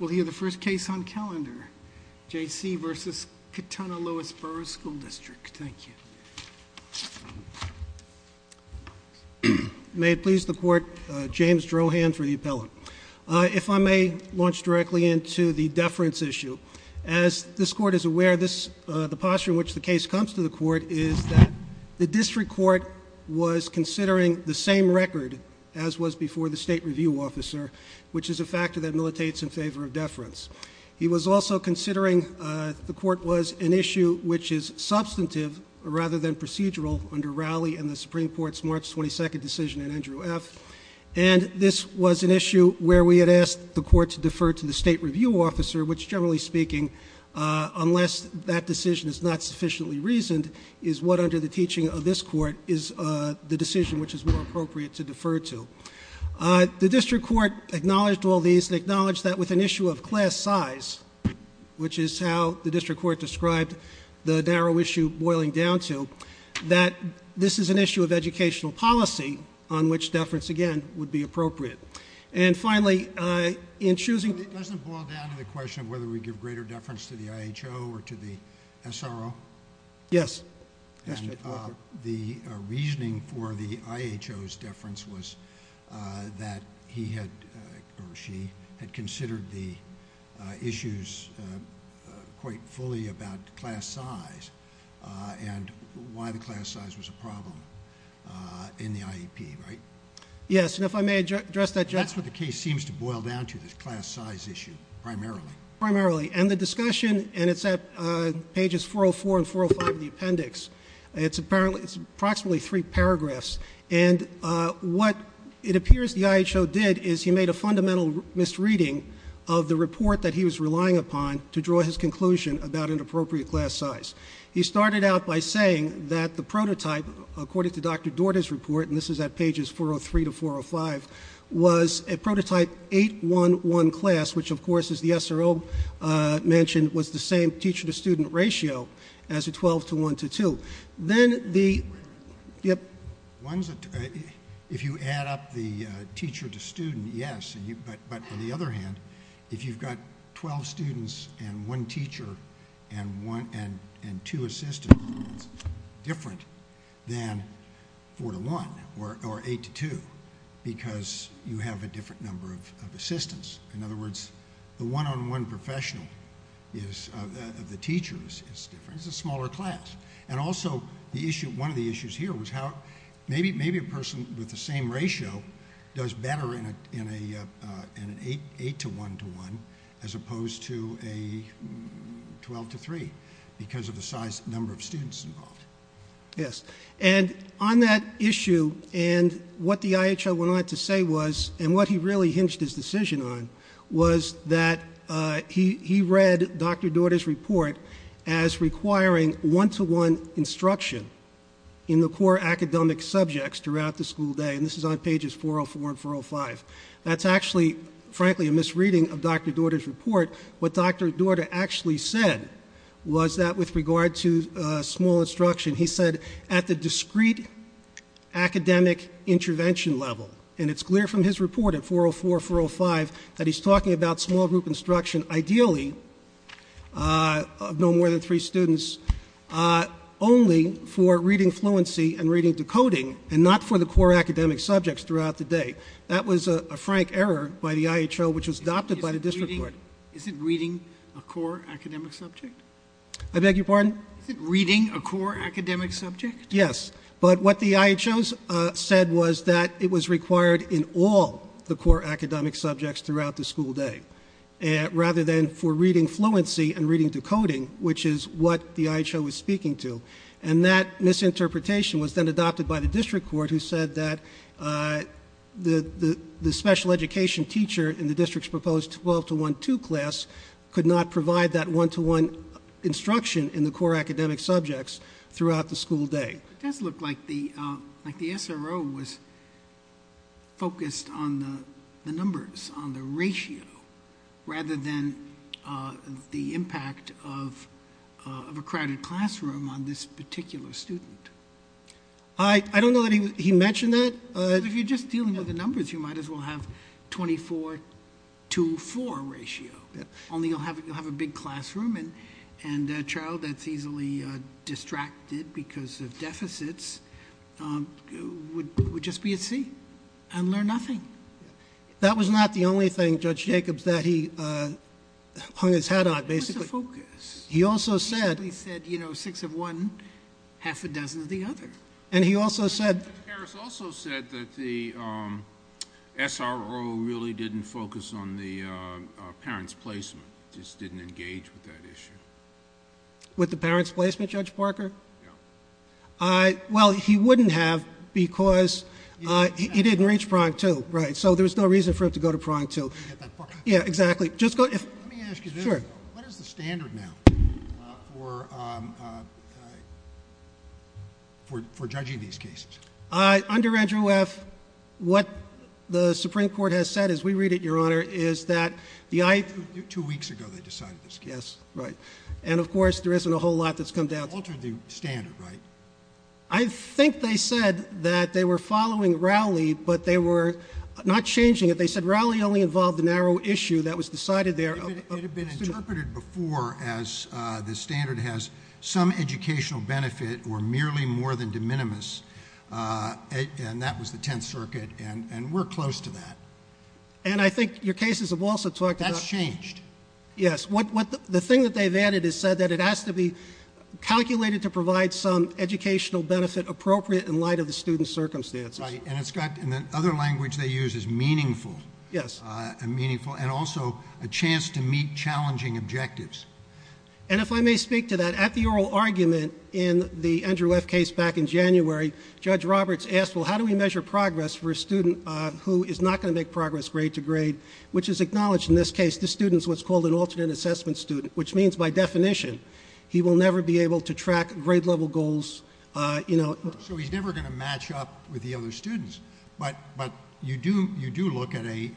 We'll hear the first case on calendar, J.C. v. Katonah-Lewisboro School District. Thank you. May it please the court, James Drohan for the appellant. If I may launch directly into the deference issue. As this court is aware, the posture in which the case comes to the court is that the district court was considering the same record as was before the state review officer, which is a factor that militates in favor of deference. He was also considering the court was an issue which is substantive rather than procedural under Rowley and the Supreme Court's March 22nd decision in Andrew F. And this was an issue where we had asked the court to defer to the state review officer, which generally speaking, unless that decision is not sufficiently reasoned, is what under the teaching of this court is the decision which is more appropriate to acknowledge all these and acknowledge that with an issue of class size, which is how the district court described the narrow issue boiling down to, that this is an issue of educational policy on which deference again would be appropriate. And finally, in choosing... It doesn't boil down to the question of whether we give greater deference to the IHO or to the SRO? Yes. The reasoning for the IHO's deference was that he had, or she, had considered the issues quite fully about class size and why the class size was a problem in the IEP, right? Yes, and if I may address that... That's what the case seems to boil down to, this class size issue, primarily. Primarily. And the discussion, and it's at pages 404 and 405 of the appendix, it's approximately three paragraphs. And what it appears the IHO did is he made a fundamental misreading of the report that he was relying upon to draw his conclusion about an appropriate class size. He started out by saying that the prototype, according to Dr. Dorda's report, and this is at 8-1-1 class, which of course, as the SRO mentioned, was the same teacher-to-student ratio as a 12-1-2. Then the... If you add up the teacher-to-student, yes, but on the other hand, if you've got 12 students and one teacher and two assistants, it's different than 4-1 or 8-2 because you have a different number of assistants. In other words, the one-on-one professional of the teacher is different. It's a smaller class. And also, one of the issues here was how maybe a person with the same ratio does better in an 8-1-1 as opposed to a 12-3 because of the size number of students involved. Yes, and on that issue, and what the IHO went on to say was, and what he really hinged his decision on was that he read Dr. Dorda's report as requiring one-to-one instruction in the core academic subjects throughout the school day, and this is on pages 404 and 405. That's actually, frankly, a misreading of Dr. Dorda's report. What Dr. Dorda actually said was that with regard to small instruction, he said at the discrete academic intervention level, and it's clear from his report at 404, 405, that he's talking about small group instruction, ideally of no more than three students, only for reading fluency and reading decoding and not for the core academic subjects throughout the day. That was a frank error by the IHO, which was adopted by the district court. Is it reading a core academic subject? I beg your pardon? Is it reading a core academic subject? Yes, but what the IHO said was that it was required in all the core academic subjects throughout the school day, rather than for reading fluency and reading decoding, which is what the IHO was speaking to, and that misinterpretation was then adopted by the district court, who said that the special education teacher in the district's proposed 12-1-2 class could not provide that one-to-one instruction in the core academic subjects throughout the school day. It does look like the SRO was focused on the numbers, on the ratio, rather than the impact of a crowded classroom on this particular student. I don't know that he mentioned that. If you're just dealing with the numbers, you might as well have 24-2-4 ratio, only you'll have a big classroom and a child that's easily distracted because of deficits would just be at sea and learn nothing. That was not the only thing Judge Jacobs that he hung his hat on, basically. He also said, you know, six of one, half a dozen of the other. And he also said- Judge Harris also said that the SRO really didn't focus on the parents' placement, just didn't engage with that issue. With the parents' placement, Judge Parker? Yeah. Well, he wouldn't have because he didn't reach prong two, right? So there's no reason for him to go to prong two. Forget that part. Yeah, exactly. Just go- Let me ask you this. Sure. What is the standard now for judging these cases? Under Andrew F., what the Supreme Court has said, as we read it, Your Honor, is that the I- Two weeks ago, they decided this case. Yes, right. And of course, there isn't a whole lot that's come down to- Altered the standard, right? I think they said that they were following Rowley, but they were not changing it. They said Rowley only involved the narrow issue that was decided there- It had been interpreted before as the standard has some educational benefit or merely more than de minimis, and that was the Tenth Circuit, and we're close to that. And I think your cases have also talked about- That's changed. Yes. The thing that they've added is said that it has to be calculated to provide some educational benefit appropriate in light of the student's circumstances. Right. And it's got, in the other language they use, is meaningful. Yes. Meaningful, and also a chance to meet challenging objectives. And if I may speak to that, at the oral argument in the Andrew F. case back in January, Judge Roberts asked, well, how do we measure progress for a student who is not going to make progress grade to grade, which is acknowledged in this case, the student's what's called an alternate assessment student, which means by definition, he will never be able to track grade level goals. So he's never going to match up with the other students. But you do look at a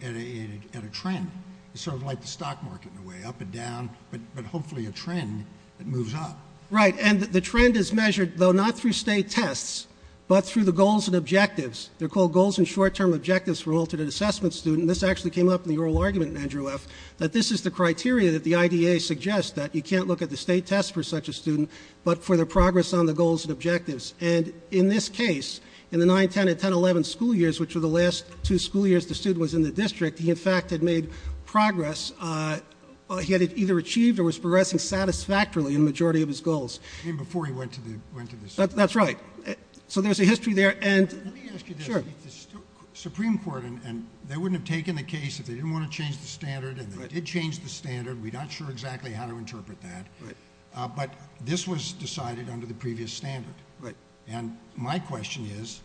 trend, sort of like the stock market in a way, up and down, but hopefully a trend that moves up. Right. And the trend is measured, though not through state tests, but through the goals and objectives. They're called goals and short-term objectives for alternate assessment student. This actually came up in the oral argument in Andrew F., that this is the criteria that the IDA suggests, that you can't look at the state test for such a student, but for the progress on the goals and objectives. And in this case, in the 9-10 and 10-11 school years, which were the last two school years the student was in the district, he, in fact, had made progress. He had either achieved or was progressing satisfactorily in the majority of his goals. Even before he went to the school. That's right. So there's a history there. And let me ask you this. The Supreme Court, and they wouldn't have taken the case if they didn't want to change the standard, and they did change the standard. We're not sure exactly how to interpret that. But this was decided under the previous standard. And my question is,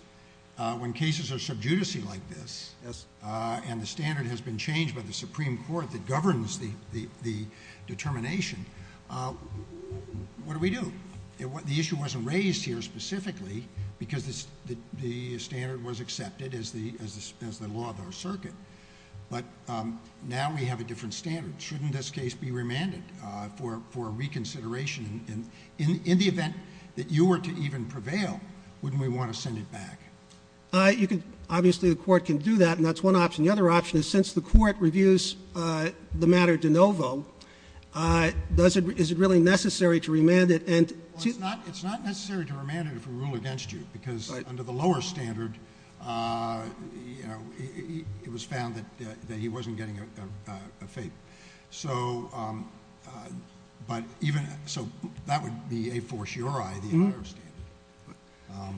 when cases are sub judice-y like this, and the standard has been changed by the Supreme Court that governs the determination, what do we do? The issue wasn't raised here specifically because the standard was accepted as the law of our circuit. But now we have a different standard. Shouldn't this case be remanded for reconsideration? In the event that you were to even prevail, wouldn't we want to send it back? Obviously, the court can do that. And that's one option. The other option is, since the court reviews the matter de novo, is it really necessary to remand it? It's not necessary to remand it if we rule against you. Because under the lower standard, it was found that he wasn't getting a fate. So that would be a fortiori the entire standard.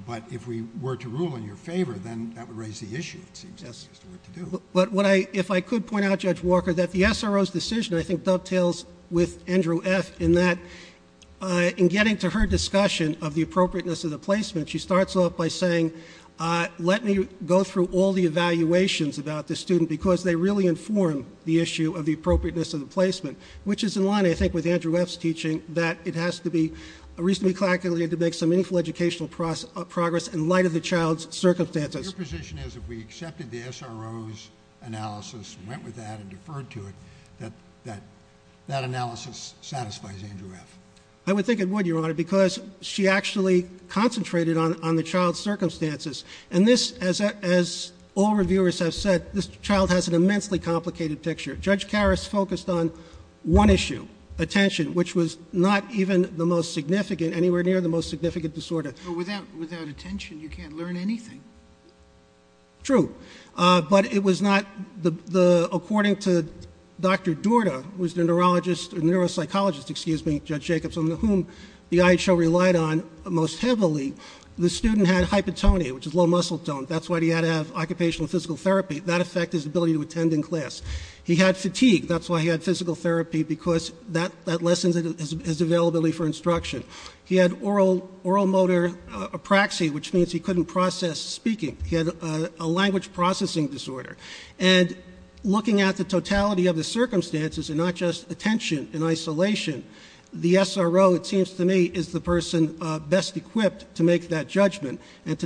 But if we were to rule in your favor, then that would raise the issue, it seems. That's just the way to do it. But if I could point out, Judge Walker, that the SRO's decision, I think, dovetails with Andrew F. In getting to her discussion of the appropriateness of the placement, she starts off by saying, let me go through all the evaluations about the student, because they really inform the issue of the appropriateness of the placement. Which is in line, I think, with Andrew F.'s teaching, that it has to be reasonably calculated to make some meaningful educational progress in light of the child's circumstances. Your position is, if we accepted the SRO's analysis, went with that, and deferred to it, that that analysis satisfies Andrew F.? I would think it would, Your Honor, because she actually concentrated on the child's circumstances. And this, as all reviewers have said, this child has an immensely complicated picture. Judge Karras focused on one issue, attention, which was not even the most significant, anywhere near the most significant disorder. But without attention, you can't learn anything. True. But it was not the, according to Dr. Dorda, who was the neurologist, or neuropsychologist, excuse me, Judge Jacobson, whom the IHO relied on most heavily, the student had hypotonia, which is low muscle tone. That's why he had to have occupational physical therapy. That affected his ability to attend in class. He had fatigue. That's why he had physical therapy, because that lessens his availability for instruction. He had oral motor apraxia, which means he couldn't process speaking. He had a language processing disorder. And looking at the totality of the circumstances, and not just attention and to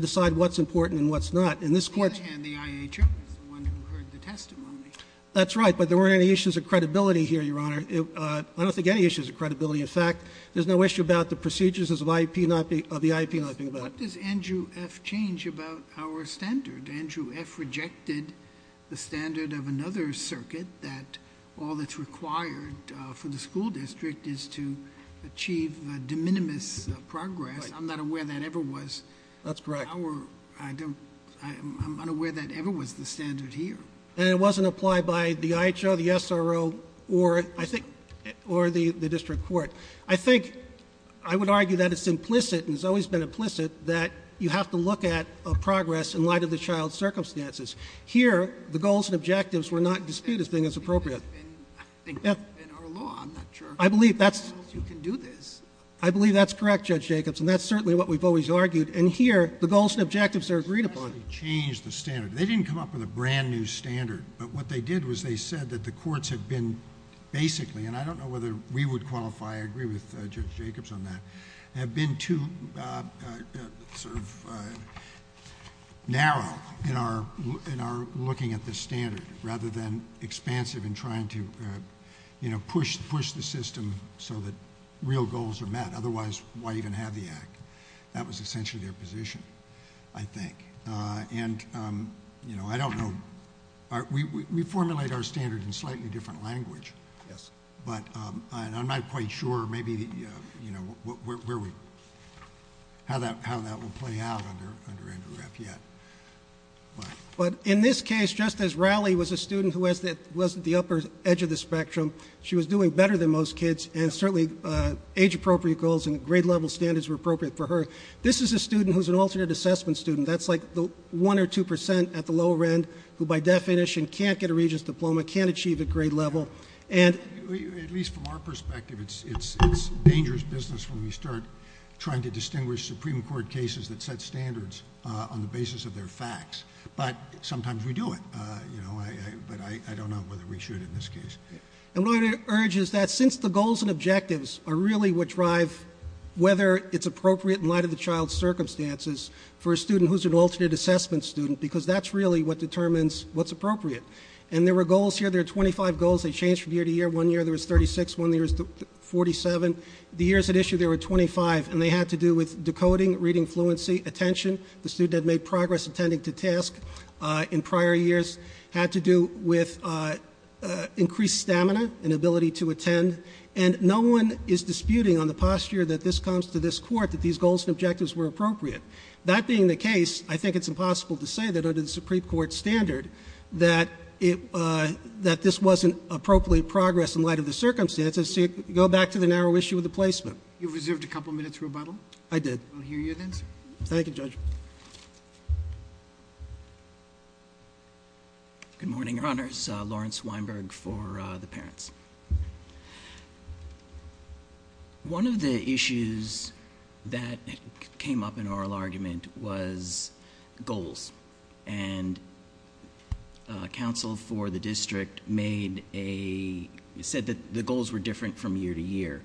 decide what's important and what's not. On the other hand, the IHO is the one who heard the testimony. That's right. But there weren't any issues of credibility here, Your Honor. I don't think any issues of credibility. In fact, there's no issue about the procedures of the IEP, nothing about it. What does Andrew F. change about our standard? Andrew F. rejected the standard of another circuit, that all that's required for the school district is to achieve de minimis progress. I'm not aware that ever was. That's correct. I'm unaware that ever was the standard here. And it wasn't applied by the IHO, the SRO, or the district court. I think I would argue that it's implicit, and it's always been implicit, that you have to look at progress in light of the child's circumstances. Here, the goals and objectives were not disputed as being as appropriate. I think that's been our law. I'm not sure. I believe that's... You can do this. I believe that's correct, Judge Jacobs. And that's certainly what we've always argued. And here, the goals and objectives are agreed upon. They changed the standard. They didn't come up with a brand new standard. But what they did was they said that the courts have been basically, and I don't know whether we would qualify, I agree with Judge Jacobs on that, have been too sort of narrow in our looking at the standard, rather than otherwise why even have the act. That was essentially their position, I think. And, you know, I don't know. We formulate our standard in slightly different language. Yes. But I'm not quite sure maybe, you know, where we... how that will play out under Andrew F. Yet. But in this case, just as Rowley was a student who was at the upper edge of the spectrum, she was doing better than most kids, and certainly age-appropriate goals and grade-level standards were appropriate for her. This is a student who's an alternate assessment student. That's like the one or two percent at the lower end who, by definition, can't get a Regent's Diploma, can't achieve a grade level. And... At least from our perspective, it's dangerous business when we start trying to distinguish Supreme Court cases that set standards on the basis of their facts. But sometimes we do it, you know. But I don't know whether we should in this case. And what I would urge is that since the goals and objectives are really what drive whether it's appropriate in light of the child's circumstances for a student who's an alternate assessment student, because that's really what determines what's appropriate. And there were goals here. There are 25 goals. They change from year to year. One year there was 36. One year there was 47. The years at issue, there were 25. And they had to do with decoding, reading fluency, attention. The student had made progress attending to task in prior years. Had to do with increased stamina and ability to attend. And no one is disputing on the posture that this comes to this court that these goals and objectives were appropriate. That being the case, I think it's impossible to say that under the Supreme Court standard that this wasn't appropriate progress in light of the circumstances. So go back to the narrow issue of the placement. You've reserved a couple minutes for rebuttal. I did. We'll hear you then, sir. Thank you, Judge. Good morning, Your Honors. Lawrence Weinberg for the parents. One of the issues that came up in oral argument was goals. And counsel for the district said that the goals were different from year to year.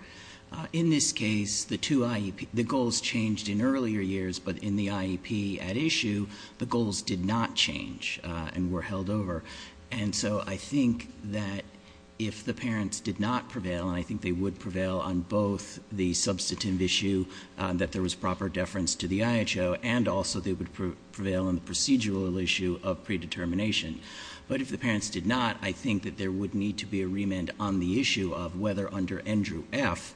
In this case, the goals changed in earlier years, but in the IEP at issue, the goals did not change and were held over. And so I think that if the parents did not prevail, and I think they would prevail on both the substantive issue that there was proper deference to the IHO, and also they would prevail on the procedural issue of predetermination. But if the parents did not, I think that there would need to be a remand on the issue of whether under Andrew F,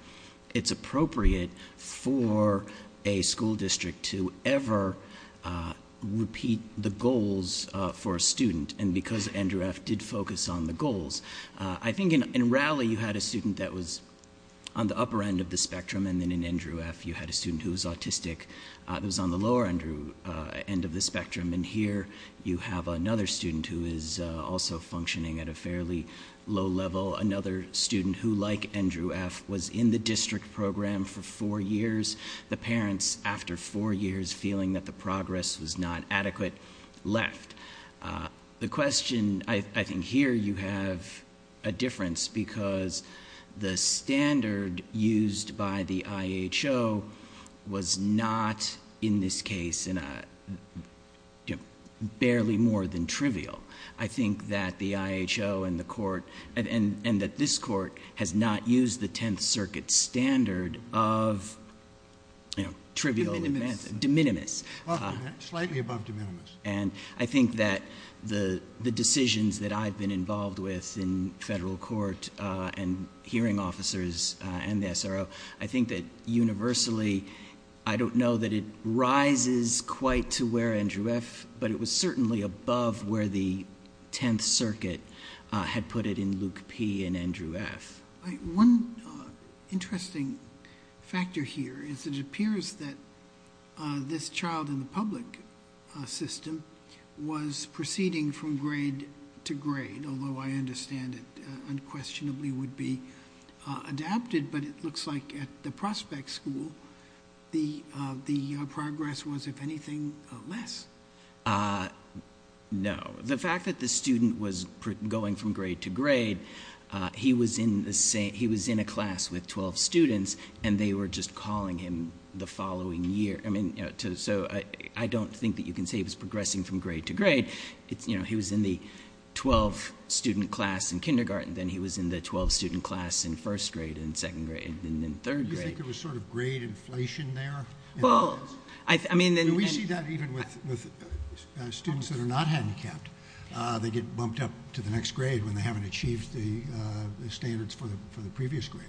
it's appropriate for a school district to ever repeat the goals for a student. And because Andrew F did focus on the goals. I think in Raleigh, you had a student that was on the upper end of the spectrum. And then in Andrew F, you had a student who was autistic. It was on the lower end of the spectrum. And here, you have another student who is also functioning at a fairly low level. Another student who, like Andrew F, was in the district program for four years. The parents, after four years, feeling that the progress was not adequate, left. The question, I think here, you have a difference because the standard used by the IHO was not, in this case, barely more than trivial. I think that the IHO and the court, and that this court, has not used the Tenth Circuit standard of, you know, trivial events, de minimis. Slightly above de minimis. And I think that the decisions that I've been involved with in federal court and hearing officers and the SRO, I think that universally, I don't know that it rises quite to where Andrew F, but it was certainly above where the Tenth Circuit had put it in Luke P and Andrew F. One interesting factor here is it appears that this child in the public system was proceeding from grade to grade. Although I understand it unquestionably would be adapted. But it looks like at the prospect school, the progress was, if anything, less. Uh, no. The fact that the student was going from grade to grade, he was in the same, he was in a class with 12 students, and they were just calling him the following year. I mean, so I don't think that you can say he was progressing from grade to grade. It's, you know, he was in the 12 student class in kindergarten, then he was in the 12 student class in first grade and second grade and then third grade. You think it was sort of grade inflation there? Well, I mean. We see that even with students that are not handicapped. They get bumped up to the next grade when they haven't achieved the standards for the previous grade.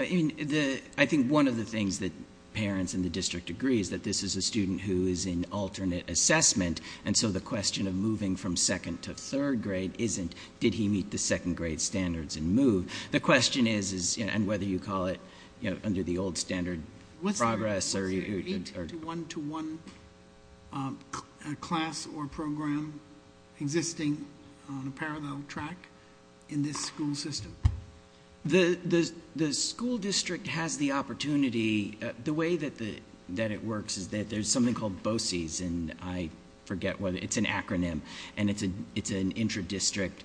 I mean, I think one of the things that parents in the district agree is that this is a student who is in alternate assessment. And so the question of moving from second to third grade isn't, did he meet the second grade standards and move? The question is, and whether you call it, you know, under the old standard progress. One to one class or program existing on a parallel track in this school system. The school district has the opportunity, the way that it works is that there's something called BOCES, and I forget whether it's an acronym, and it's an intradistrict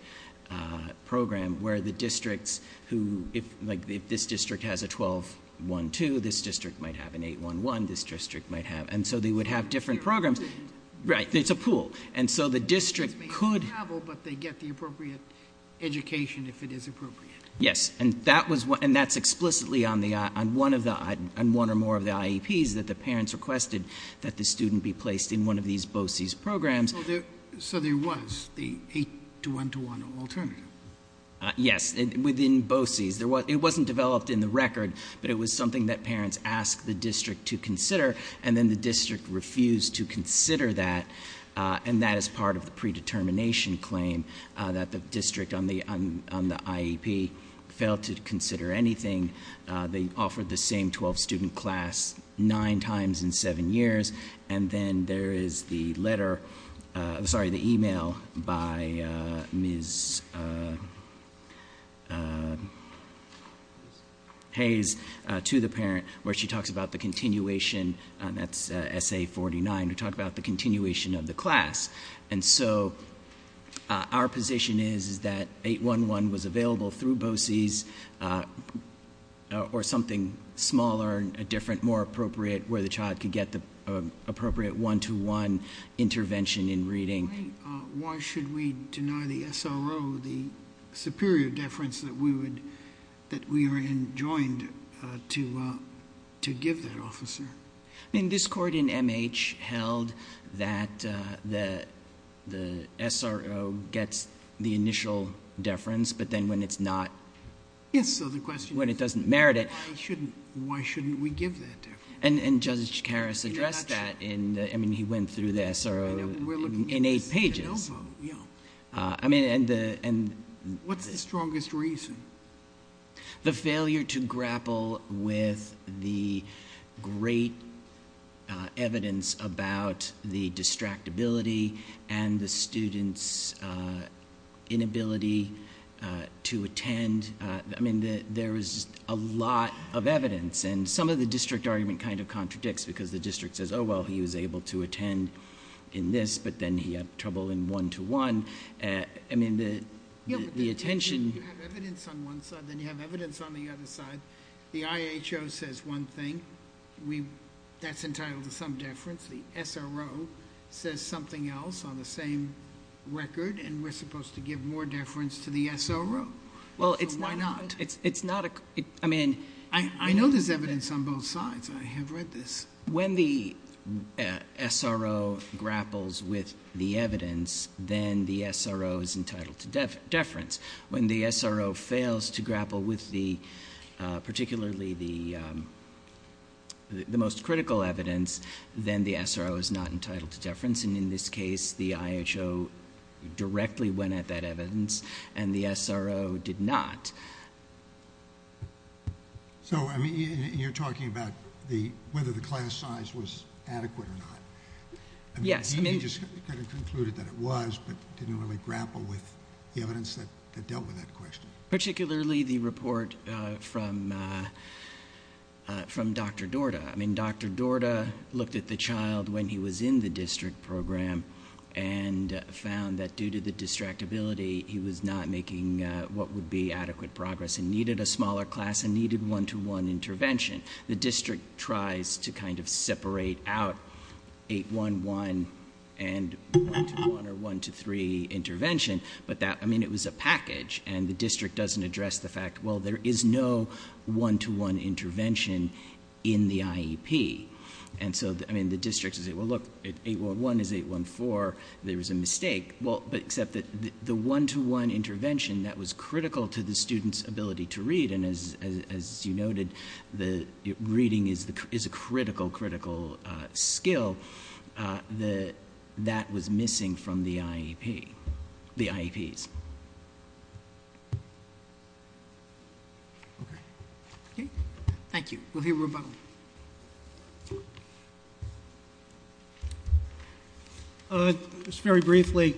program where the districts who, like if this district has a 12-1-2, this district might have an 8-1-1, this district might have, and so they would have different programs. Right. It's a pool. And so the district could. They travel, but they get the appropriate education if it is appropriate. Yes. And that's explicitly on one or more of the IEPs that the parents requested that the student be placed in one of these BOCES programs. So there was the eight to one to one alternative? Yes. Within BOCES, it wasn't developed in the record, but it was something that parents asked the district to consider, and then the district refused to consider that. And that is part of the predetermination claim, that the district on the IEP failed to consider anything. They offered the same 12-student class nine times in seven years. And then there is the letter, I'm sorry, the email by Ms. Hayes to the parent where she talks about the continuation, that's essay 49, to talk about the continuation of the class. And so our position is that 8-1-1 was available through BOCES or something smaller and different, more appropriate, where the child could get the appropriate one-to-one intervention in reading. Why should we deny the SRO the superior deference that we are enjoined to give that officer? I mean, this court in MH held that the SRO gets the initial deference, but then when it's not, when it doesn't merit it. Why shouldn't we give that deference? And Judge Karas addressed that in, I mean, he went through the SRO in eight pages. What's the strongest reason? The failure to grapple with the great evidence about the distractibility and the students' inability to attend. Some of the district argument kind of contradicts, because the district says, oh, well, he was able to attend in this, but then he had trouble in one-to-one. I mean, the attention... If you have evidence on one side, then you have evidence on the other side. The IHO says one thing, that's entitled to some deference. The SRO says something else on the same record, and we're supposed to give more deference to the SRO? Well, it's not. I mean, I know there's evidence on both sides. I have read this. When the SRO grapples with the evidence, then the SRO is entitled to deference. When the SRO fails to grapple with the, particularly the most critical evidence, then the SRO is not entitled to deference. And in this case, the IHO directly went at that evidence, and the SRO did not. So, I mean, you're talking about whether the class size was adequate or not. Yes. You just kind of concluded that it was, but didn't really grapple with the evidence that dealt with that question. Particularly the report from Dr. Dorda. I mean, Dr. Dorda looked at the child when he was in the district program and found that due to the distractibility, he was not making what would be adequate progress and needed a smaller class and needed one-to-one intervention. The district tries to kind of separate out 811 and one-to-one or one-to-three intervention. But that, I mean, it was a package. And the district doesn't address the fact, well, there is no one-to-one intervention in the IEP. And so, I mean, the district says, well, look, 811 is 814. There was a mistake. Well, but except that the one-to-one intervention that was critical to the student's ability to read, and as you noted, the reading is a critical, critical skill, that was missing from the IEP, the IEPs. Okay. Okay. Thank you. We'll hear from him. Just very briefly,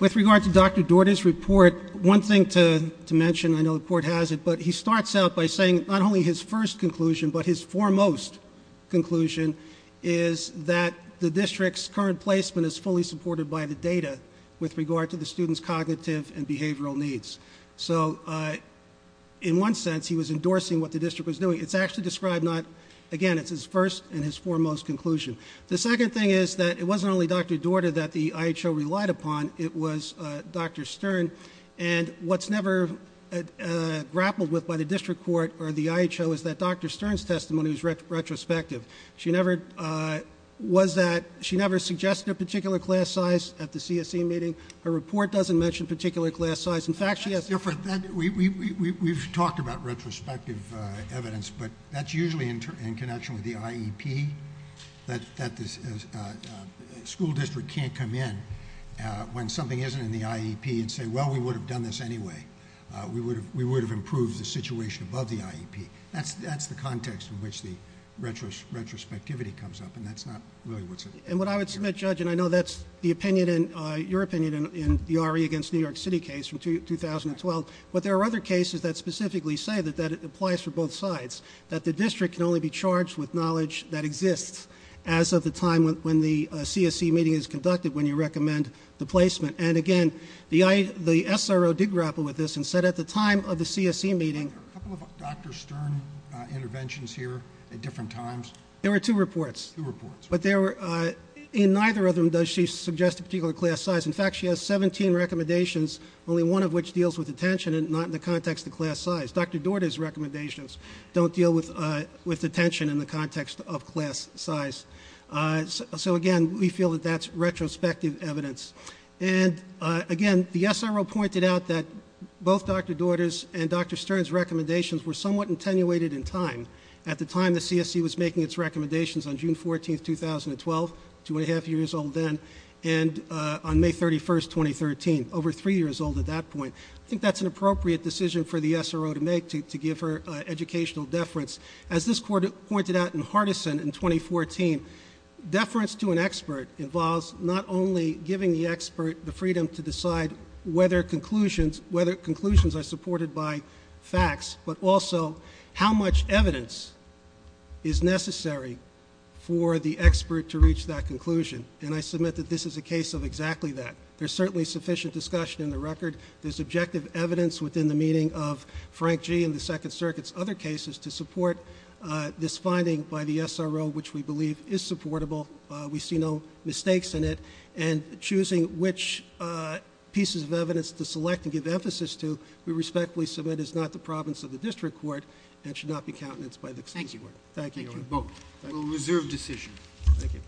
with regard to Dr. Dorda's report, one thing to mention, I know the court has it, but he starts out by saying not only his first conclusion, but his foremost conclusion is that the district's current placement is fully supported by the data with regard to the student's cognitive and behavioral needs. So in one sense, he was endorsing what the district was doing. It's actually described not, again, it's his first and his foremost conclusion. The second thing is that it wasn't only Dr. Dorda that the IHO relied upon. It was Dr. Stern. And what's never grappled with by the district court or the IHO is that Dr. Stern's testimony was retrospective. She never suggested a particular class size at the CSE meeting. Her report doesn't mention particular class size. In fact, she has- That's different. We've talked about retrospective evidence, but that's usually in connection with the IEP, that the school district can't come in when something isn't in the IEP and say, well, we would have done this anyway. We would have improved the situation above the IEP. That's the context in which the retrospectivity comes up, and that's not really what's- And what I would submit, Judge, and I know that's your opinion in the RE against New York City case from 2012, but there are other cases that specifically say that that applies for both sides, that the district can only be charged with knowledge that exists as of the time when the CSE meeting is conducted when you recommend the placement. And again, the SRO did grapple with this and said at the time of the CSE meeting- Are there a couple of Dr. Stern interventions here at different times? There were two reports. Two reports. In neither of them does she suggest a particular class size. In fact, she has 17 recommendations, only one of which deals with attention and not in the context of class size. Dr. Daugherty's recommendations don't deal with attention in the context of class size. So again, we feel that that's retrospective evidence. And again, the SRO pointed out that both Dr. Daugherty's and Dr. Stern's recommendations were somewhat attenuated in time. At the time the CSE was making its recommendations on June 14, 2012, two and a half years old then, and on May 31, 2013, over three years old at that point. I think that's an appropriate decision for the SRO to make to give her educational deference. As this court pointed out in Hardison in 2014, deference to an expert involves not only giving the expert the freedom to decide whether conclusions are supported by facts, but also how much evidence is necessary for the expert to reach that conclusion. And I submit that this is a case of exactly that. There's certainly sufficient discussion in the record. There's objective evidence within the meaning of Frank G. and the Second Circuit's other cases to support this finding by the SRO, which we believe is supportable. We see no mistakes in it. And choosing which pieces of evidence to select and give emphasis to, we respectfully submit is not the province of the district court and should not be countenanced by the CSE board. Thank you. We'll reserve decision. Thank you.